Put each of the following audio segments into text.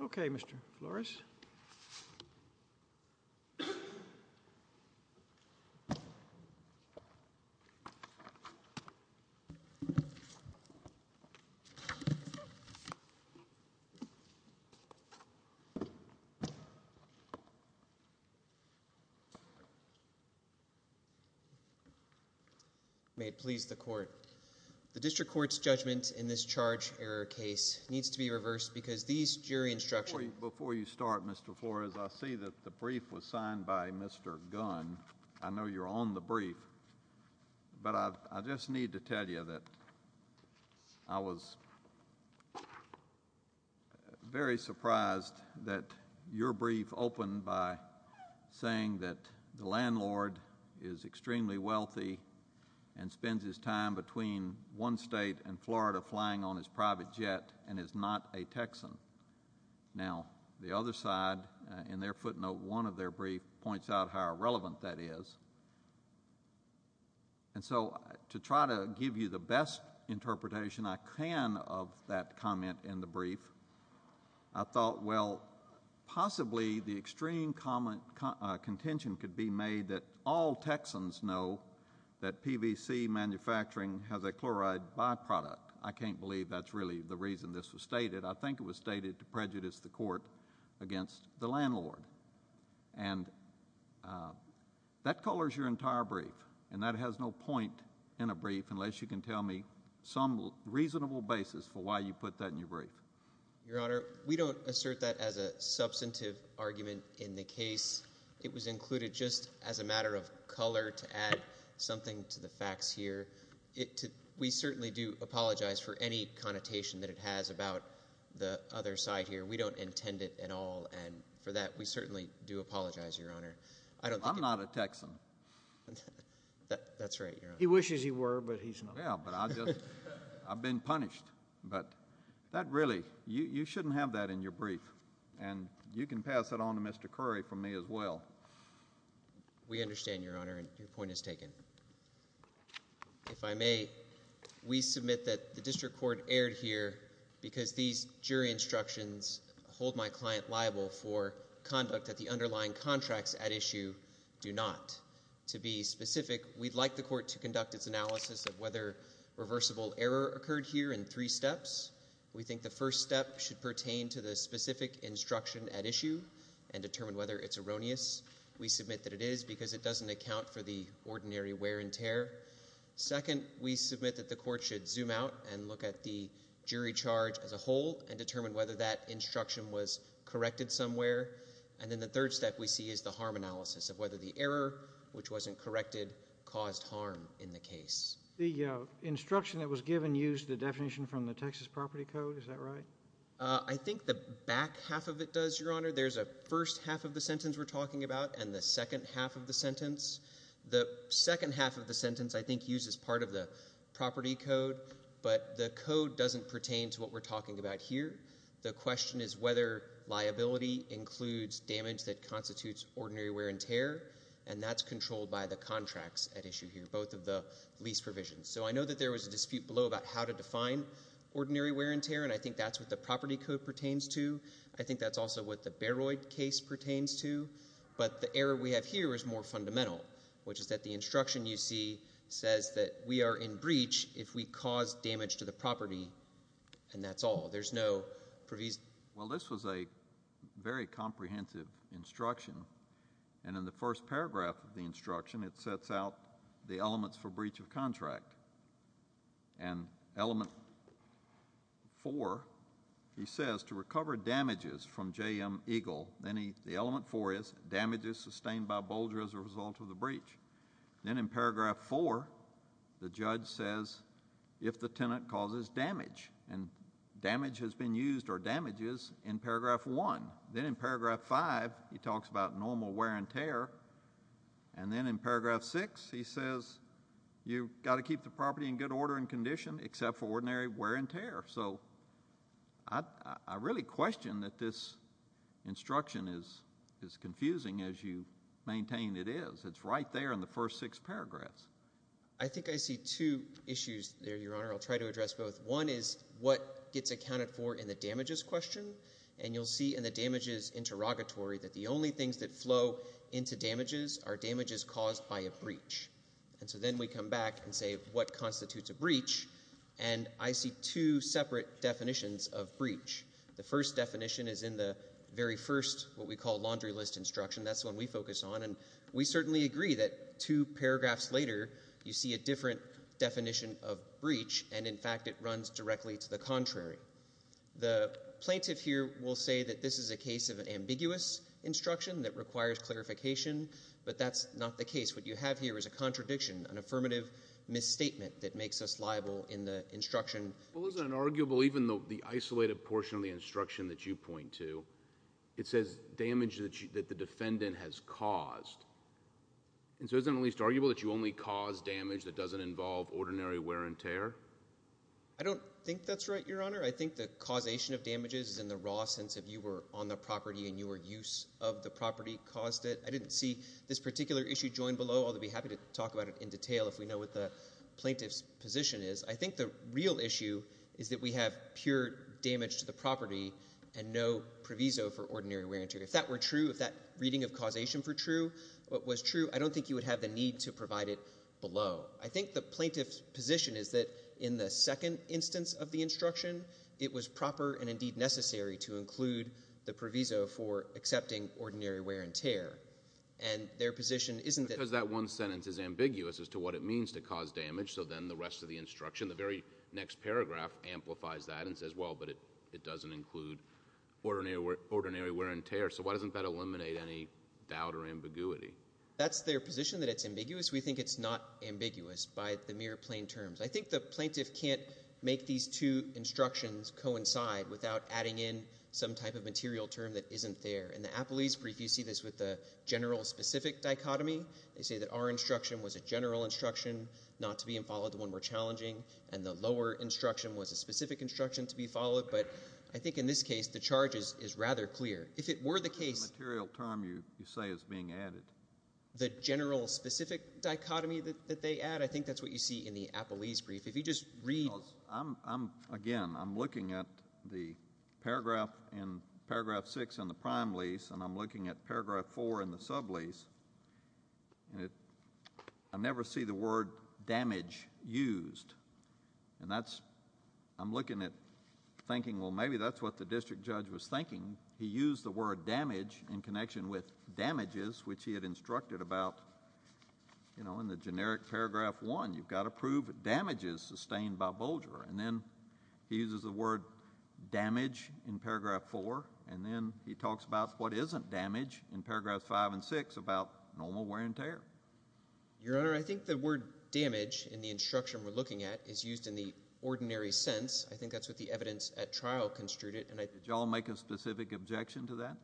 Okay, Mr. Flores. May it please the Court. The District Court's judgment in this charge error case needs to be reversed because these jury instructions... Before you start, Mr. Flores, I see that the brief was signed by Mr. Gunn. I know you're on the brief, but I just need to tell you that I was very surprised that your brief opened by saying that the landlord is extremely wealthy and spends his time between one state and Florida flying on his private jet and is not a Texan. Now the other side, in their footnote, one of their brief points out how irrelevant that is. And so to try to give you the best interpretation I can of that comment in the brief, I thought well, possibly the extreme contention could be made that all Texans know that PVC manufacturing has a chloride byproduct. I can't believe that's really the reason this was stated. I think it was stated to prejudice the Court against the landlord. And that colors your entire brief, and that has no point in a brief unless you can tell me some reasonable basis for why you put that in your brief. Your Honor, we don't assert that as a substantive argument in the case. It was included just as a matter of color to add something to the facts here. We certainly do apologize for any connotation that it has about the other side here. We don't intend it at all, and for that we certainly do apologize, Your Honor. I'm not a Texan. That's right, Your Honor. He wishes he were, but he's not. Yeah, but I've been punished. But that really, you shouldn't have that in your brief. And you can pass that on to Mr. Curry for me as well. We understand, Your Honor, and your point is taken. If I may, we submit that the District Court erred here because these jury instructions hold my client liable for conduct that the underlying contracts at issue do not. To be specific, we'd like the court to conduct its analysis of whether reversible error occurred here in three steps. We think the first step should pertain to the specific instruction at issue and determine whether it's erroneous. We submit that it is because it doesn't account for the ordinary wear and tear. Second, we submit that the court should zoom out and look at the jury charge as a whole and determine whether that instruction was corrected somewhere. And then the third step we see is the harm analysis of whether the error, which wasn't corrected, caused harm in the case. The instruction that was given used the definition from the Texas Property Code, is that right? I think the back half of it does, Your Honor. There's a first half of the sentence we're talking about and the second half of the sentence. The second half of the sentence I think uses part of the property code, but the code doesn't pertain to what we're talking about here. The question is whether liability includes damage that constitutes ordinary wear and tear, and that's controlled by the contracts at issue here, both of the lease provisions. So I know that there was a dispute below about how to define ordinary wear and tear, and I think that's what the property code pertains to. I think that's also what the Bayroid case pertains to. But the error we have here is more fundamental, which is that the instruction you see says that we are in breach if we cause damage to the property, and that's all. There's no provision. Well, this was a very comprehensive instruction. And in the first paragraph of the instruction, it sets out the elements for breach of contract. And element four, he says to recover damages from JM Eagle. Then the element four is damages sustained by Boulder as a result of the breach. Then in paragraph four, the judge says if the tenant causes damage, and damage has been used or damages in paragraph one. Then in paragraph five, he talks about normal wear and tear. And then in paragraph six, he says you've got to keep the property in good order and condition except for ordinary wear and tear. So I really question that this instruction is as confusing as you maintain it is. It's right there in the first six paragraphs. I think I see two issues there, Your Honor. I'll try to address both. One is what gets accounted for in the damages question. And you'll see in the damages interrogatory that the only things that flow into damages are damages caused by a breach. And so then we come back and say, what constitutes a breach? And I see two separate definitions of breach. The first definition is in the very first, what we call laundry list instruction. That's the one we focus on. And we certainly agree that two paragraphs later, you see a different definition of breach. And in fact, it runs directly to the contrary. The plaintiff here will say that this is a case of an ambiguous instruction that requires clarification. But that's not the case. What you have here is a contradiction, an affirmative misstatement that makes us liable in the instruction. Well, isn't it arguable even though the isolated portion of the instruction that you point to, it says damage that the defendant has caused. And so isn't it at least arguable that you only cause damage that doesn't involve ordinary wear and tear? I don't think that's right, Your Honor. I think the causation of damages is in the raw sense of you were on the property and your use of the property caused it. I didn't see this particular issue joined below. I'll be happy to talk about it in detail if we know what the plaintiff's position is. I think the real issue is that we have pure damage to the property and no proviso for ordinary wear and tear. If that were true, if that reading of causation were true, what was true, I don't think you would have the need to provide it below. I think the plaintiff's position is that in the second instance of the instruction, it was proper and indeed necessary to include the proviso for accepting ordinary wear and tear. And their position isn't that- Because that one sentence is ambiguous as to what it means to cause damage, so then the rest of the instruction, the very next paragraph amplifies that and says, well, but it doesn't include ordinary wear and tear. So why doesn't that eliminate any doubt or ambiguity? That's their position, that it's ambiguous. We think it's not ambiguous by the mere plain terms. I think the plaintiff can't make these two instructions coincide without adding in some type of material term that isn't there. In the Appellee's brief, you see this with the general specific dichotomy. They say that our instruction was a general instruction not to be involved when we're challenging, and the lower instruction was a specific instruction to be followed. But I think in this case, the charge is rather clear. If it were the case- The material term you say is being added. The general specific dichotomy that they add, I think that's what you see in the Appellee's brief. If you just read- Because I'm, again, I'm looking at the paragraph in, paragraph six in the prime lease, and I'm looking at paragraph four in the sub-lease, and I never see the word damage used. And that's, I'm looking at thinking, well, maybe that's what the district judge was thinking. He used the word damage in connection with damages, which he had instructed about, you know, in the generic paragraph one. You've got to prove damages sustained by bulger. And then he uses the word damage in paragraph four, and then he talks about what isn't damage in paragraphs five and six about normal wear and tear. Your Honor, I think the word damage in the instruction we're looking at is used in the ordinary sense. I think that's what the evidence at trial construed it, and I- Did y'all make a specific objection to that?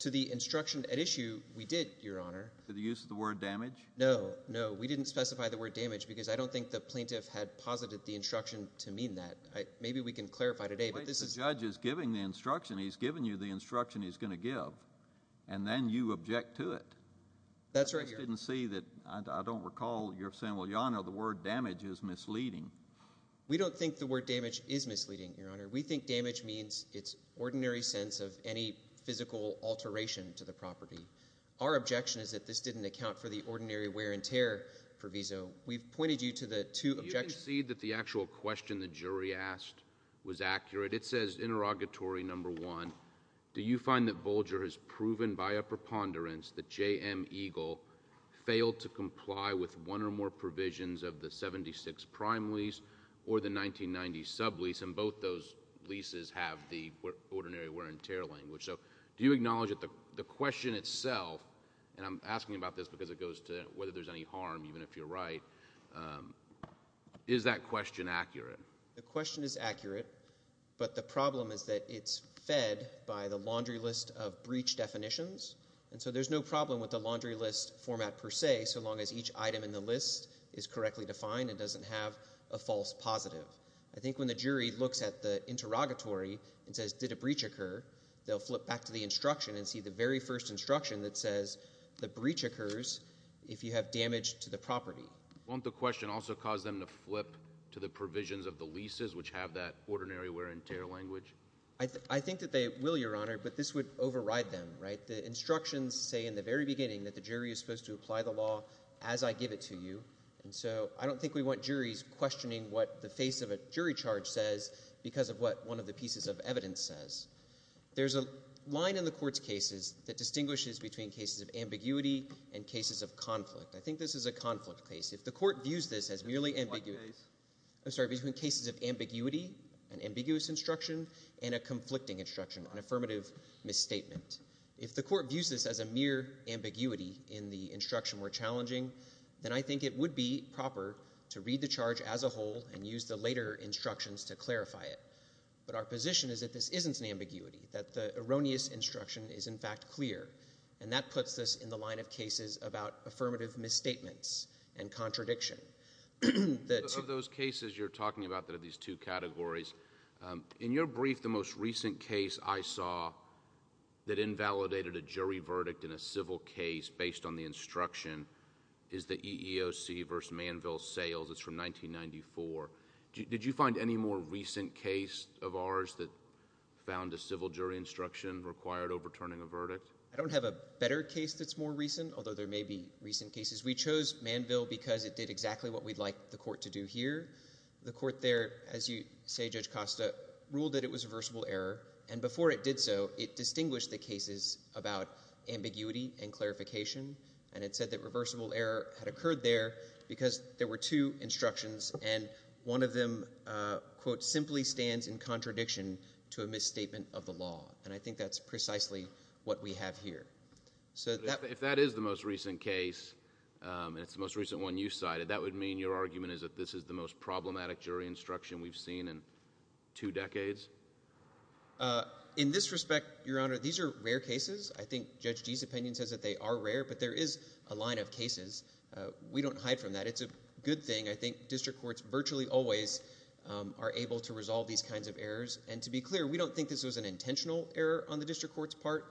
To the instruction at issue, we did, Your Honor. To the use of the word damage? No, no, we didn't specify the word damage, because I don't think the plaintiff had posited the instruction to mean that. Maybe we can clarify today, but this is- Wait, the judge is giving the instruction. He's giving you the instruction he's going to give, and then you object to it. That's right, Your Honor. I just didn't see that, I don't recall your saying, well, Your Honor, the word damage is misleading. We don't think the word damage is misleading, Your Honor. We think damage means it's ordinary sense of any physical alteration to the property. Our objection is that this didn't account for the ordinary wear and tear proviso. We've pointed you to the two objections- Do you concede that the actual question the jury asked was accurate? It says, interrogatory number one, do you find that Bolger has proven by a preponderance that J.M. Eagle failed to comply with one or more provisions of the 76 prime lease or the 1990 sub lease? And both those leases have the ordinary wear and tear language. So, do you acknowledge that the question itself, and I'm asking about this because it goes to whether there's any harm, even if you're right, is that question accurate? The question is accurate, but the problem is that it's fed by the laundry list of breach definitions. And so, there's no problem with the laundry list format per se, so long as each item in the list is correctly defined and doesn't have a false positive. I think when the jury looks at the interrogatory and says, did a breach occur? They'll flip back to the instruction and see the very first instruction that says, the breach occurs if you have damage to the property. Won't the question also cause them to flip to the provisions of the leases which have that ordinary wear and tear language? I think that they will, your honor, but this would override them, right? The instructions say in the very beginning that the jury is supposed to apply the law as I give it to you. And so, I don't think we want juries questioning what the face of a jury charge says because of what one of the pieces of evidence says. There's a line in the court's cases that distinguishes between cases of ambiguity and cases of conflict. I think this is a conflict case. If the court views this as merely ambiguity, I'm sorry, between cases of ambiguity, an ambiguous instruction, and a conflicting instruction, an affirmative misstatement. If the court views this as a mere ambiguity in the instruction we're challenging, then I think it would be proper to read the charge as a whole and use the later instructions to clarify it. But our position is that this isn't an ambiguity, that the erroneous instruction is in fact clear. And that puts us in the line of cases about affirmative misstatements and contradiction. The two- That invalidated a jury verdict in a civil case based on the instruction is the EEOC versus Manville-Sales, it's from 1994. Did you find any more recent case of ours that found a civil jury instruction required overturning a verdict? I don't have a better case that's more recent, although there may be recent cases. We chose Manville because it did exactly what we'd like the court to do here. The court there, as you say, Judge Costa, ruled that it was a reversible error. And before it did so, it distinguished the cases about ambiguity and clarification. And it said that reversible error had occurred there because there were two instructions and one of them, quote, simply stands in contradiction to a misstatement of the law. And I think that's precisely what we have here. So that- If that is the most recent case, and it's the most recent one you cited, that would mean your argument is that this is the most problematic jury instruction we've seen in two decades? In this respect, Your Honor, these are rare cases. I think Judge Gee's opinion says that they are rare, but there is a line of cases. We don't hide from that. It's a good thing. I think district courts virtually always are able to resolve these kinds of errors. And to be clear, we don't think this was an intentional error on the district court's part.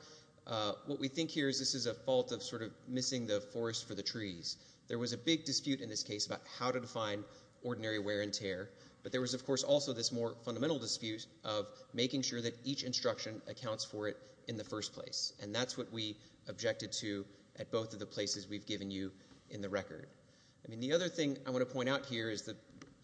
What we think here is this is a fault of sort of missing the forest for the trees. There was a big dispute in this case about how to define ordinary wear and tear. But there was, of course, also this more fundamental dispute of making sure that each instruction accounts for it in the first place. And that's what we objected to at both of the places we've given you in the record. I mean, the other thing I want to point out here is that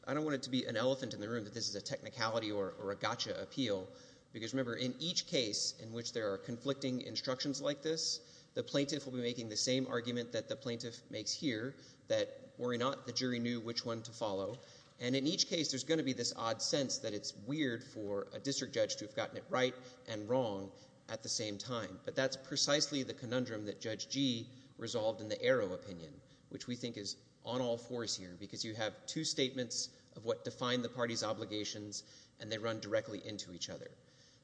I don't want it to be an elephant in the room that this is a technicality or a gotcha appeal. Because remember, in each case in which there are conflicting instructions like this, the plaintiff will be making the same argument that the plaintiff makes here, that worry not, the jury knew which one to follow. And in each case, there's going to be this odd sense that it's weird for a district judge to have gotten it right and wrong at the same time. But that's precisely the conundrum that Judge Gee resolved in the Arrow opinion, which we think is on all fours here. Because you have two statements of what define the party's obligations, and they run directly into each other.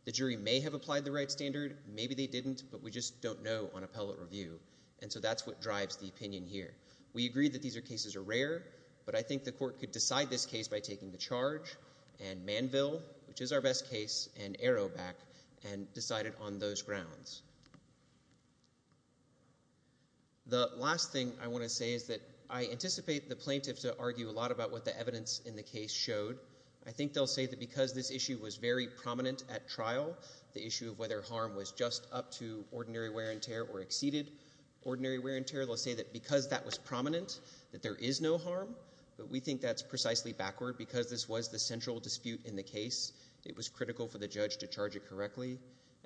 The jury may have applied the right standard, maybe they didn't, but we just don't know on appellate review. And so that's what drives the opinion here. We agree that these cases are rare, but I think the court could decide this case by taking the charge. And Manville, which is our best case, and Arrow back and decide it on those grounds. The last thing I want to say is that I anticipate the plaintiff to argue a lot about what the evidence in the case showed. I think they'll say that because this issue was very prominent at trial, the issue of whether harm was just up to ordinary wear and tear or exceeded ordinary wear and tear. They'll say that because that was prominent, that there is no harm. But we think that's precisely backward, because this was the central dispute in the case. It was critical for the judge to charge it correctly.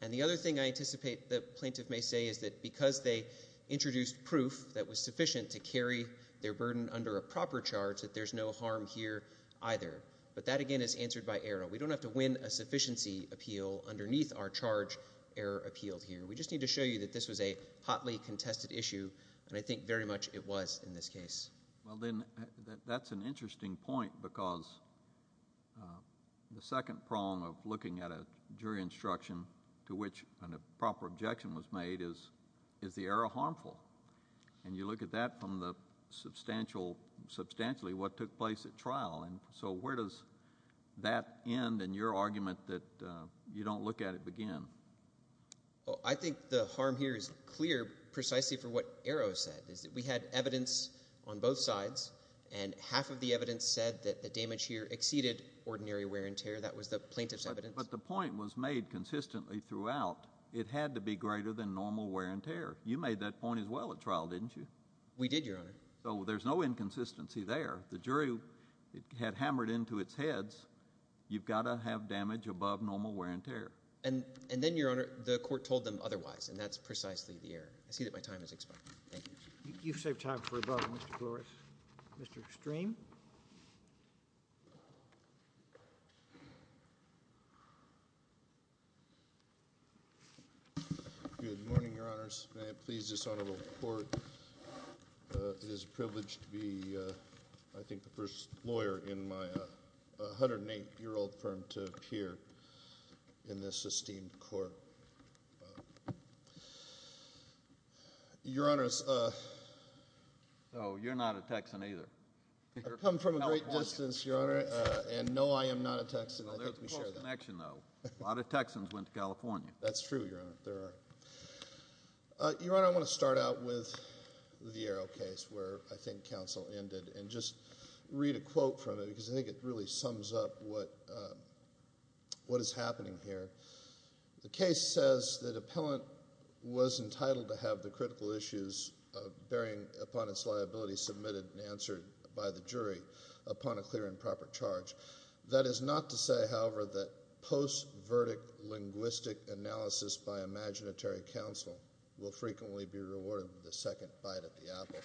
And the other thing I anticipate the plaintiff may say is that because they introduced proof that was sufficient to carry their burden under a proper charge, that there's no harm here either. But that again is answered by Arrow. We don't have to win a sufficiency appeal underneath our charge, Arrow appealed here. We just need to show you that this was a hotly contested issue, and I think very much it was in this case. Well then, that's an interesting point, because the second prong of looking at a jury instruction to which a proper objection was made is, is the error harmful? And you look at that from the substantial, substantially what took place at trial. And so where does that end and your argument that you don't look at it begin? Well, I think the harm here is clear precisely for what Arrow said, is that we had evidence on both sides, and half of the evidence said that the damage here exceeded ordinary wear and tear. That was the plaintiff's evidence. But the point was made consistently throughout. It had to be greater than normal wear and tear. You made that point as well at trial, didn't you? We did, Your Honor. So there's no inconsistency there. The jury had hammered into its heads, you've got to have damage above normal wear and tear. And then, Your Honor, the court told them otherwise, and that's precisely the error. I see that my time has expired. Thank you. You've saved time for a brother, Mr. Flores. Mr. Extreme? Good morning, Your Honors. May it please this Honorable Court, it is a privilege to be, I think, the first lawyer in my 108-year-old firm to appear in this esteemed court. Your Honors. Oh, you're not a Texan either. I come from a great distance, Your Honor, and no, I am not a Texan. I think we share that. Well, there's a close connection, though. A lot of Texans went to California. That's true, Your Honor. There are. Your Honor, I want to start out with the Arrow case, where I think counsel ended, and just read a quote from it, because I think it really sums up what is happening here. The case says that appellant was entitled to have the critical issues bearing upon its liability submitted and answered by the jury upon a clear and proper charge. That is not to say, however, that post-verdict linguistic analysis by imaginatory counsel will frequently be rewarded with a second bite at the apple.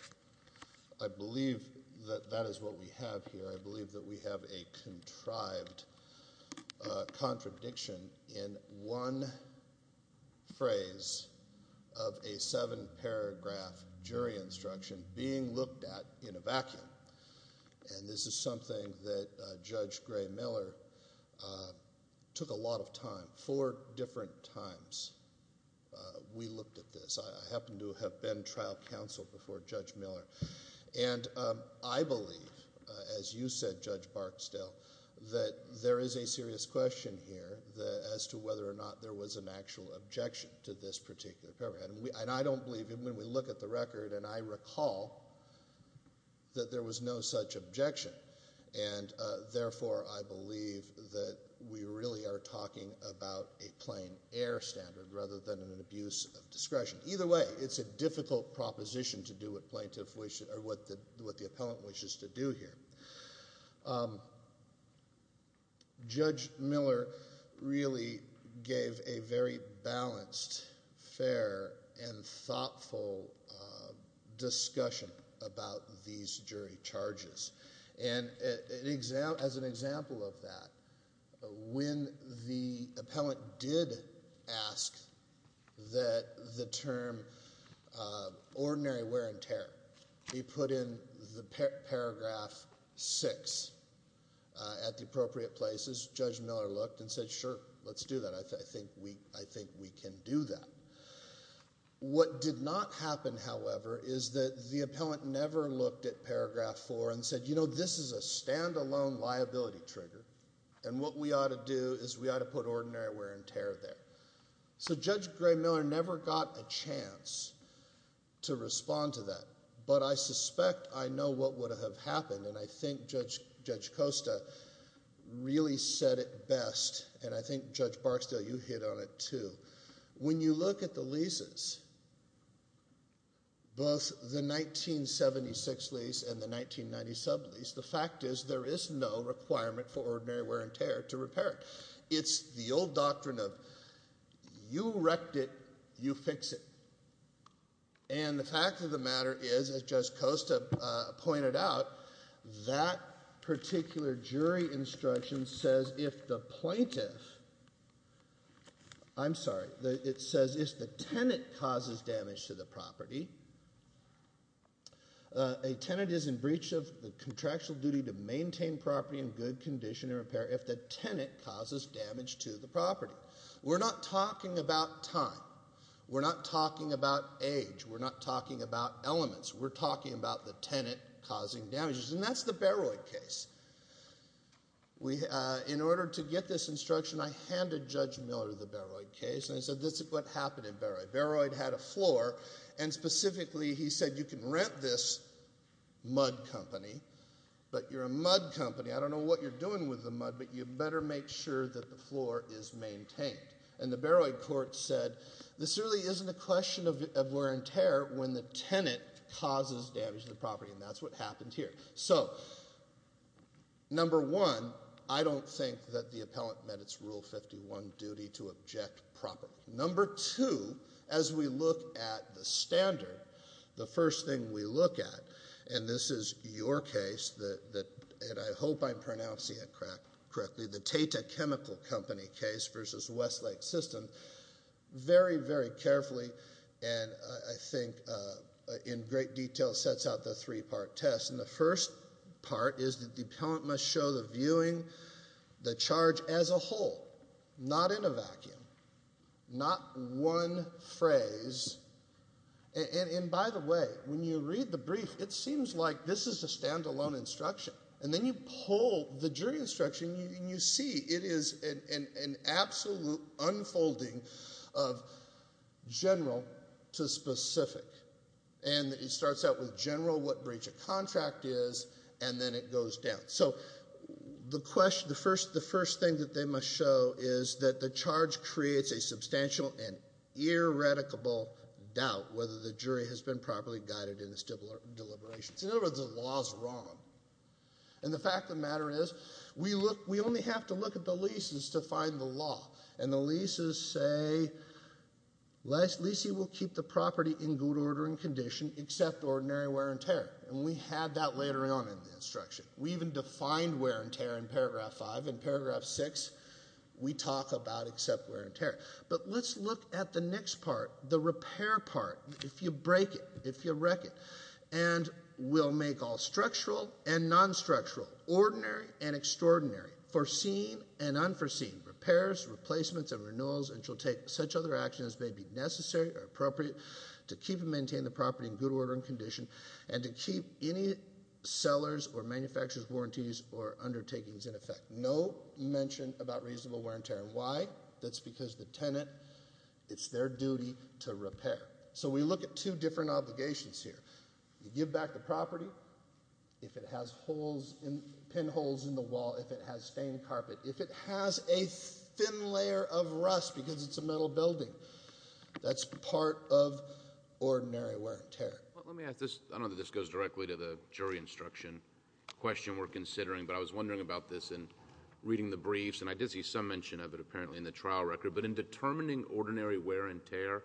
I believe that that is what we have here. I believe that we have a contrived contradiction in one phrase of a seven-paragraph jury instruction being looked at in a vacuum. And this is something that Judge Gray Miller took a lot of time. Four different times we looked at this. I happen to have been trial counsel before Judge Miller. And I believe, as you said, Judge Barksdale, that there is a serious question here as to whether or not there was an actual objection to this particular paragraph. And I don't believe, even when we look at the record, and I recall that there was no such objection. And therefore, I believe that we really are talking about a plain air standard, rather than an abuse of discretion. Either way, it's a difficult proposition to do what plaintiff wishes, or what the appellant wishes to do here. Judge Miller really gave a very balanced, fair, and thoughtful discussion about these jury charges. And as an example of that, when the appellant did ask that the term ordinary wear and tear be put in the paragraph six at the appropriate places, Judge Miller looked and said, sure, let's do that. I think we can do that. What did not happen, however, is that the appellant never looked at paragraph four and said, you know, this is a standalone liability trigger. And what we ought to do is we ought to put ordinary wear and tear there. So Judge Gray-Miller never got a chance to respond to that. But I suspect I know what would have happened, and I think Judge Costa really said it best. And I think Judge Barksdale, you hit on it too. When you look at the leases, both the 1976 lease and the 1990 sub-lease, the fact is there is no requirement for ordinary wear and tear to repair it. It's the old doctrine of you wrecked it, you fix it. And the fact of the matter is, as Judge Costa pointed out, that particular jury instruction says if the plaintiff, I'm sorry, it says if the tenant causes damage to the property, a tenant is in breach of the contractual duty to maintain property in good condition and repair if the tenant causes damage to the property. We're not talking about time. We're not talking about age. We're not talking about elements. We're talking about the tenant causing damages. And that's the Barroyd case. In order to get this instruction, I handed Judge Miller the Barroyd case. And I said, this is what happened in Barroyd. Barroyd had a floor. And specifically, he said, you can rent this mud company, but you're a mud company. I don't know what you're doing with the mud, but you better make sure that the floor is maintained. And the Barroyd court said, this really isn't a question of wear and tear when the tenant causes damage to the property. And that's what happened here. So number one, I don't think that the appellant met its Rule 51 duty to object properly. Number two, as we look at the standard, the first thing we look at, and this is your case, and I hope I'm pronouncing it correctly, the Tata Chemical Company case versus Westlake System, very, very carefully, and I think in great detail, sets out the three-part test. And the first part is that the appellant must show the viewing, the charge as a whole, not in a vacuum, not one phrase. And by the way, when you read the brief, it seems like this is a standalone instruction. And then you pull the jury instruction, and you see it is an absolute unfolding of general to specific. And it starts out with general, what breach of contract is, and then it goes down. So the first thing that they must show is that the charge creates a substantial and irrevocable doubt whether the jury has been properly guided in its deliberations. In other words, the law is wrong. And the fact of the matter is, we only have to look at the leases to find the law. And the leases say, leasing will keep the property in good order and condition except ordinary wear and tear. And we had that later on in the instruction. We even defined wear and tear in paragraph five. In paragraph six, we talk about except wear and tear. But let's look at the next part, the repair part. If you break it, if you wreck it, and we'll make all structural and non-structural, ordinary and extraordinary, foreseen and unforeseen repairs, replacements and renewals, and shall take such other actions as may be necessary or appropriate to keep and maintain the property in good order and condition and to keep any sellers or manufacturers' warranties or undertakings in effect. No mention about reasonable wear and tear. Why? That's because the tenant, it's their duty to repair. So we look at two different obligations here. You give back the property, if it has holes, pinholes in the wall, if it has stained carpet, if it has a thin layer of rust because it's a metal building, that's part of ordinary wear and tear. Let me ask this, I don't know if this goes directly to the jury instruction question we're considering, but I was wondering about this in reading the briefs, and I did see some mention of it apparently in the trial record, but in determining ordinary wear and tear,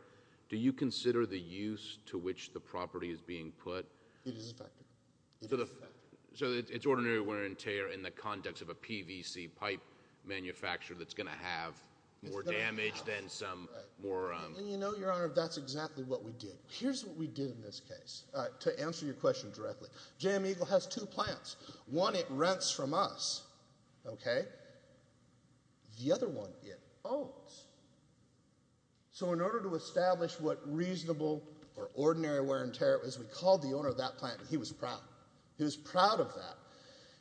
do you consider the use to which the property is being put? It is a factor. So it's ordinary wear and tear in the context of a PVC pipe manufacturer that's going to have more damage than some more... And you know, Your Honour, that's exactly what we did. Here's what we did in this case. To answer your question directly, Jam Eagle has two plants. One it rents from us, OK? The other one it owns. So in order to establish what reasonable or ordinary wear and tear it was, we called the owner of that plant, and he was proud. He was proud of that.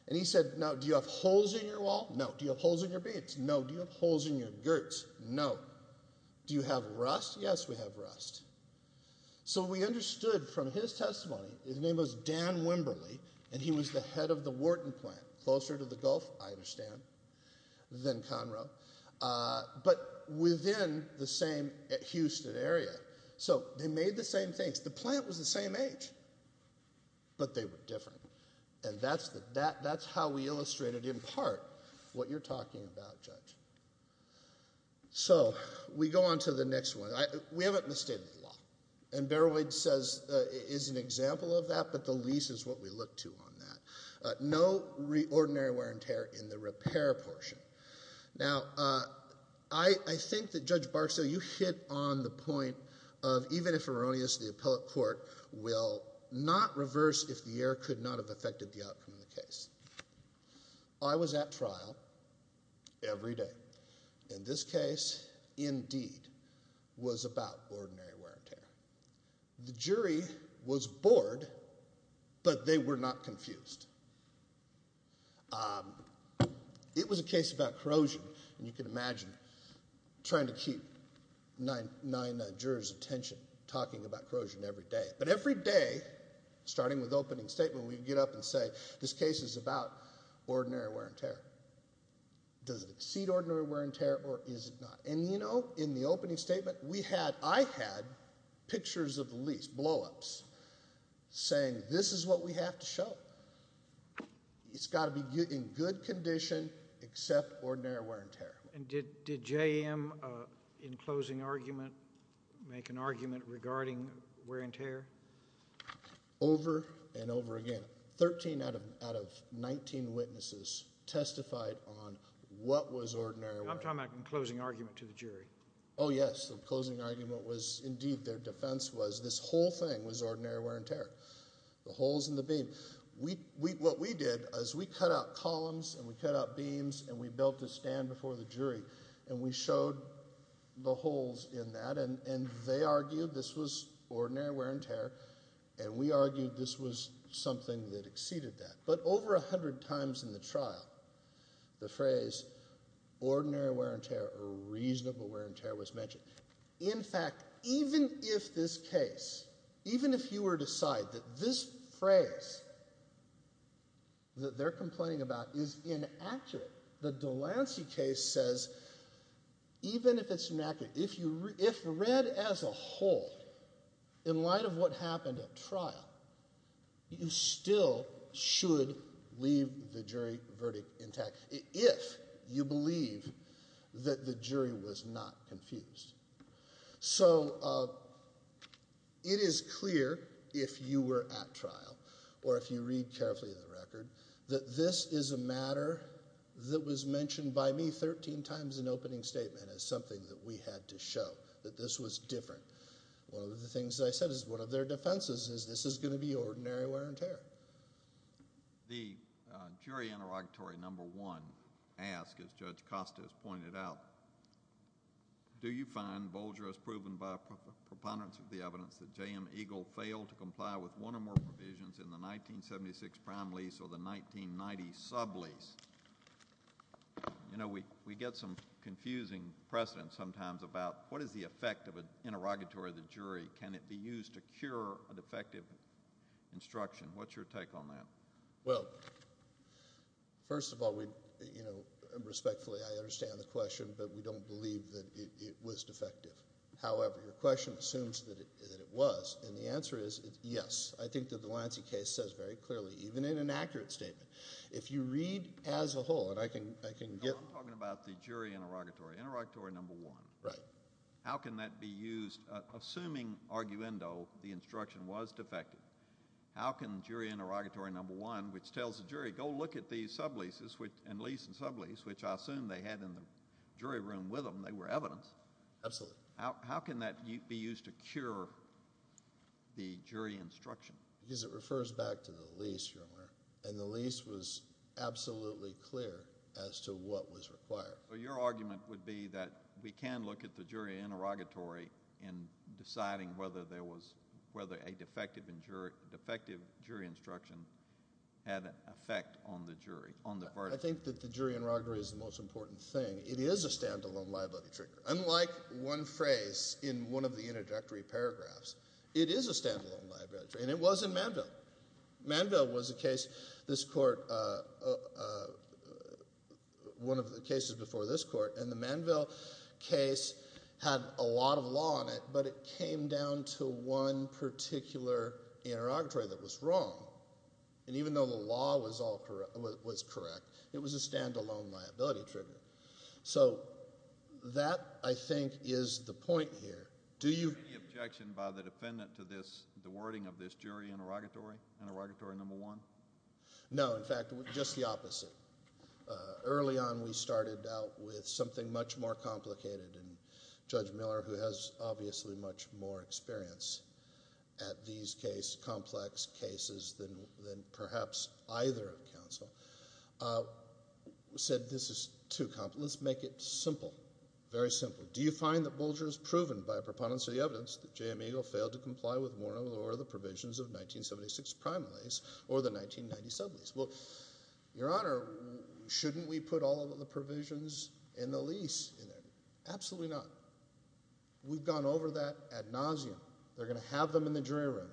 And he said, now, do you have holes in your wall? No. Do you have holes in your beads? No. Do you have holes in your girts? No. Do you have rust? Yes, we have rust. So we understood from his testimony, his name was Dan Wimberly, and he was the head of the Wharton plant, closer to the Gulf, I understand, than Conroe, but within the same Houston area. So they made the same things. The plant was the same age, but they were different. And that's how we illustrated, in part, what you're talking about, Judge. So we go on to the next one. We haven't misstated the law. And Berowood is an example of that, but the lease is what we look to on that. No ordinary wear and tear in the repair portion. Now, I think that, Judge Barksdale, you hit on the point of even if erroneous, the appellate court will not reverse if the error could not have affected the outcome of the case. I was at trial every day. In this case, indeed, was about ordinary wear and tear. The jury was bored, but they were not confused. It was a case about corrosion, and you can imagine trying to keep nine jurors' attention talking about corrosion every day. But every day, starting with opening statement, we'd get up and say, this case is about ordinary wear and tear. Does it exceed ordinary wear and tear, or is it not? And, you know, in the opening statement, we had, I had, pictures of the lease, blowups, saying this is what we have to show. It's got to be in good condition except ordinary wear and tear. And did JM, in closing argument, make an argument regarding wear and tear? Over and over again. Thirteen out of 19 witnesses testified on what was ordinary wear and tear. I'm talking about in closing argument to the jury. Oh, yes. The closing argument was, indeed, their defense was this whole thing was ordinary wear and tear, the holes in the beam. We, what we did is we cut out columns, and we cut out beams, and we built a stand before the jury, and we showed the holes in that. And they argued this was ordinary wear and tear, and we argued this was something that exceeded that. But over 100 times in the trial, the phrase ordinary wear and tear or reasonable wear and tear was mentioned. In fact, even if this case, even if you were to decide that this phrase that they're complaining about is inaccurate, the Delancey case says, even if it's inaccurate, if you, if read as a whole, in light of what happened at trial, you still should leave the jury verdict intact if you believe that the jury was not confused. So it is clear, if you were at trial, or if you read carefully in the record, that this is a matter that was mentioned by me 13 times in opening statement as something that we had to show, that this was different. One of the things that I said is one of their defenses is this is going to be ordinary wear and tear. The jury interrogatory number one ask, as Judge Costa has pointed out, do you find Bolger as proven by proponents of the evidence that J.M. Eagle failed to comply with one or more provisions in the 1976 prime lease or the 1990 sub-lease? You know, we get some confusing precedent sometimes about what is the effect of an interrogatory of the jury? Can it be used to cure a defective instruction? What's your take on that? Well, first of all, we, you know, respectfully I understand the question, but we don't believe that it was defective. However, your question assumes that it was, and the answer is yes. I think that the Delancey case says very clearly, even in an accurate statement. If you read as a whole, and I can get. No, I'm talking about the jury interrogatory. Interrogatory number one. How can that be used? Assuming, arguendo, the instruction was defective, how can jury interrogatory number one, which tells the jury, go look at these sub-leases and lease and sub-lease, which I assume they had in the jury room with them, they were evidence. Absolutely. How can that be used to cure the jury instruction? Because it refers back to the lease, Your Honor, and the lease was absolutely clear as to what was required. So your argument would be that we can look at the jury interrogatory in deciding whether there was, whether a defective jury instruction had an effect on the jury, on the verdict. I think that the jury interrogatory is the most important thing. It is a standalone liability trigger. Unlike one phrase in one of the introductory paragraphs, it is a standalone liability trigger, and it was in Manville. Manville was a case, this court, one of the cases before this court, and the Manville case had a lot of law in it, but it came down to one particular interrogatory that was wrong. And even though the law was correct, it was a standalone liability trigger. So that, I think, is the point here. Do you- Any objection by the defendant to this, the wording of this jury interrogatory, interrogatory number one? No, in fact, just the opposite. Early on, we started out with something much more complicated, and Judge Miller, who has obviously much more experience at these case, complex cases, than perhaps either counsel, said this is too complex, let's make it simple. Very simple. Do you find that Bulger has proven, by a preponderance of the evidence, that J.M. Eagle failed to comply with Morneau or the provisions of 1976 primaries, or the 1990 sub-lease? Well, Your Honor, shouldn't we put all of the provisions in the lease in there? Absolutely not. We've gone over that ad nauseum. They're gonna have them in the jury room.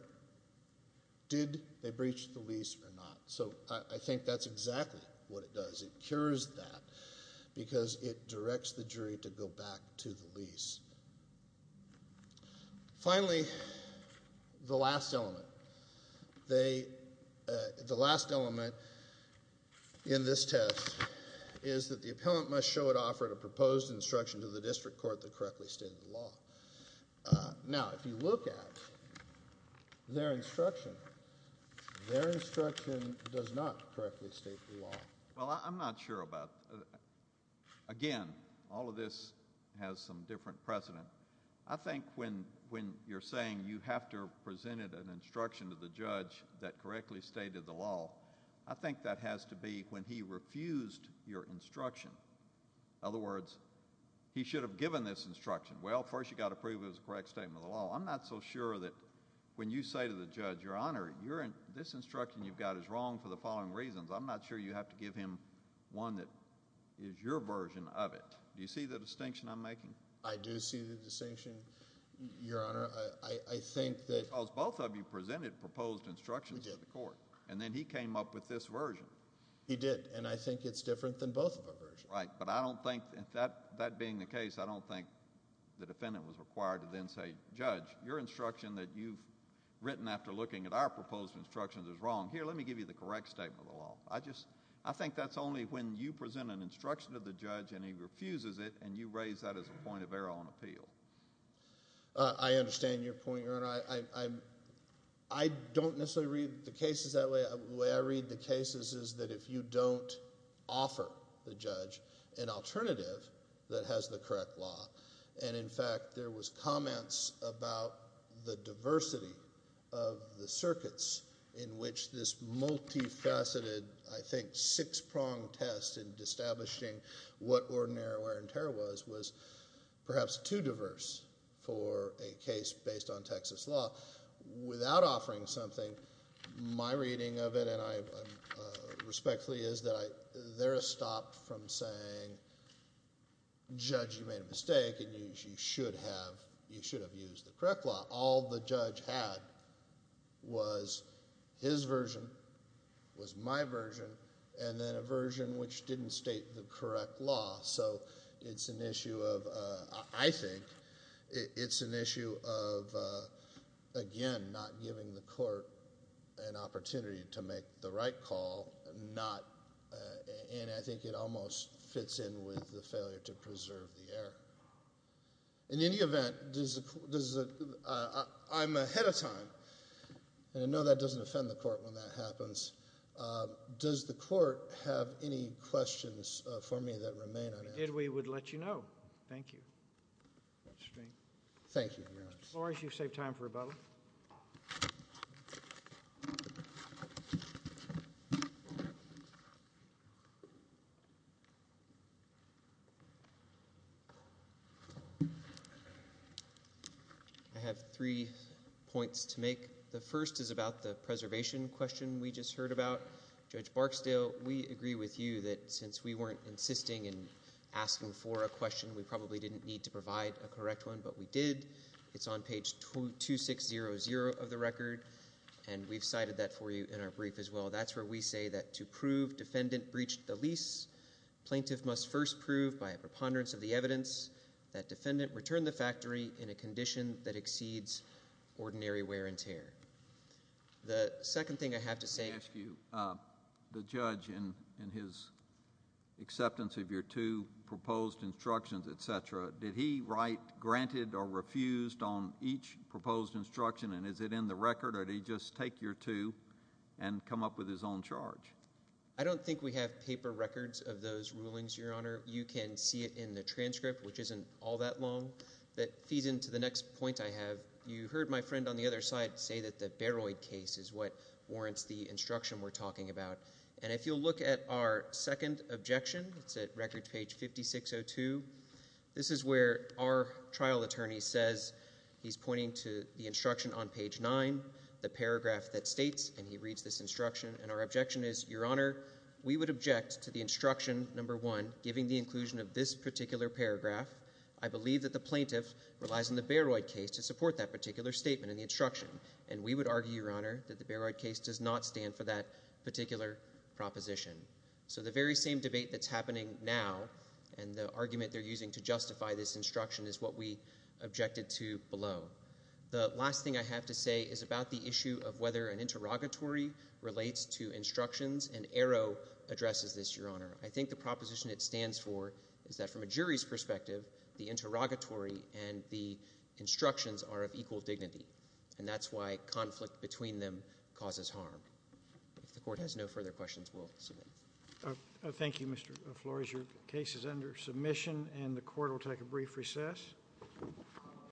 Did they breach the lease or not? So I think that's exactly what it does. It cures that, because it directs the jury to go back to the lease. Finally, the last element. They, the last element in this test, is that the appellant must show it offered a proposed instruction to the district court that correctly stated the law. Now, if you look at their instruction, their instruction does not correctly state the law. Well, I'm not sure about, again, all of this has some different precedent. I think when you're saying you have to present it as an instruction to the judge that correctly stated the law, I think that has to be when he refused your instruction. Other words, he should have given this instruction. Well, first you gotta prove it was a correct statement of the law. I'm not so sure that when you say to the judge, Your Honor, this instruction you've got is wrong for the following reasons. I'm not sure you have to give him one that is your version of it. Do you see the distinction I'm making? I do see the distinction, Your Honor. I think that. Because both of you presented proposed instructions to the court, and then he came up with this version. He did, and I think it's different than both of our versions. Right, but I don't think, that being the case, I don't think the defendant was required to then say, Judge, your instruction that you've written after looking at our proposed instructions is wrong. Here, let me give you the correct statement of the law. I think that's only when you present an instruction to the judge and he refuses it, and you raise that as a point of error on appeal. I understand your point, Your Honor. I don't necessarily read the cases that way. The way I read the cases is that if you don't offer the judge an alternative that has the correct law, and in fact, there was comments about the diversity of the circuits in which this multifaceted, I think, six-pronged test in establishing what ordinary or interior was, was perhaps too diverse for a case based on Texas law. Without offering something, my reading of it, and I respectfully is that there is stop from saying, Judge, you made a mistake, and you should have used the correct law. All the judge had was his version, was my version, and then a version which didn't state the correct law. So it's an issue of, I think, it's an issue of, again, not giving the court an opportunity to make the right call, and I think it almost fits in with the failure to preserve the error. In any event, I'm ahead of time, and I know that doesn't offend the court when that happens. Does the court have any questions for me that remain unanswered? If we did, we would let you know. Thank you, Mr. String. Thank you, Your Honor. Mr. Flores, you've saved time for rebuttal. I have three points to make. The first is about the preservation question we just heard about. Judge Barksdale, we agree with you that since we weren't insisting in asking for a question, we probably didn't need to provide a correct one, but we did. It's on page 2600 of the record, and we've cited that for you in our brief as well. That's where we say that to prove defendant breached the lease, plaintiff must first prove by a preponderance of the evidence that defendant returned the factory in a condition that exceeds ordinary wear and tear. The second thing I have to say. Let me ask you, the judge in his acceptance of your two proposed instructions, et cetera, did he write granted or refused on each proposed instruction, and is it in the record, or did he just take your two and come up with his own charge? I don't think we have paper records of those rulings, Your Honor. You can see it in the transcript, which isn't all that long, that feeds into the next point I have. You heard my friend on the other side say that the Bayroid case is what warrants the instruction we're talking about, and if you'll look at our second objection, it's at record page 5602. This is where our trial attorney says, he's pointing to the instruction on page nine, the paragraph that states, and he reads this instruction, and our objection is, Your Honor, we would object to the instruction, number one, giving the inclusion of this particular paragraph. I believe that the plaintiff relies on the Bayroid case to support that particular statement in the instruction, and we would argue, Your Honor, that the Bayroid case does not stand for that particular proposition. So the very same debate that's happening now, and the argument they're using to justify this instruction is what we objected to below. The last thing I have to say is about the issue of whether an interrogatory relates to instructions, and Arrow addresses this, Your Honor. I think the proposition it stands for is that from a jury's perspective, the interrogatory and the instructions are of equal dignity, and that's why conflict between them causes harm. If the court has no further questions, we'll submit. Thank you, Mr. Flores. Your case is under submission, and the court will take a brief recess.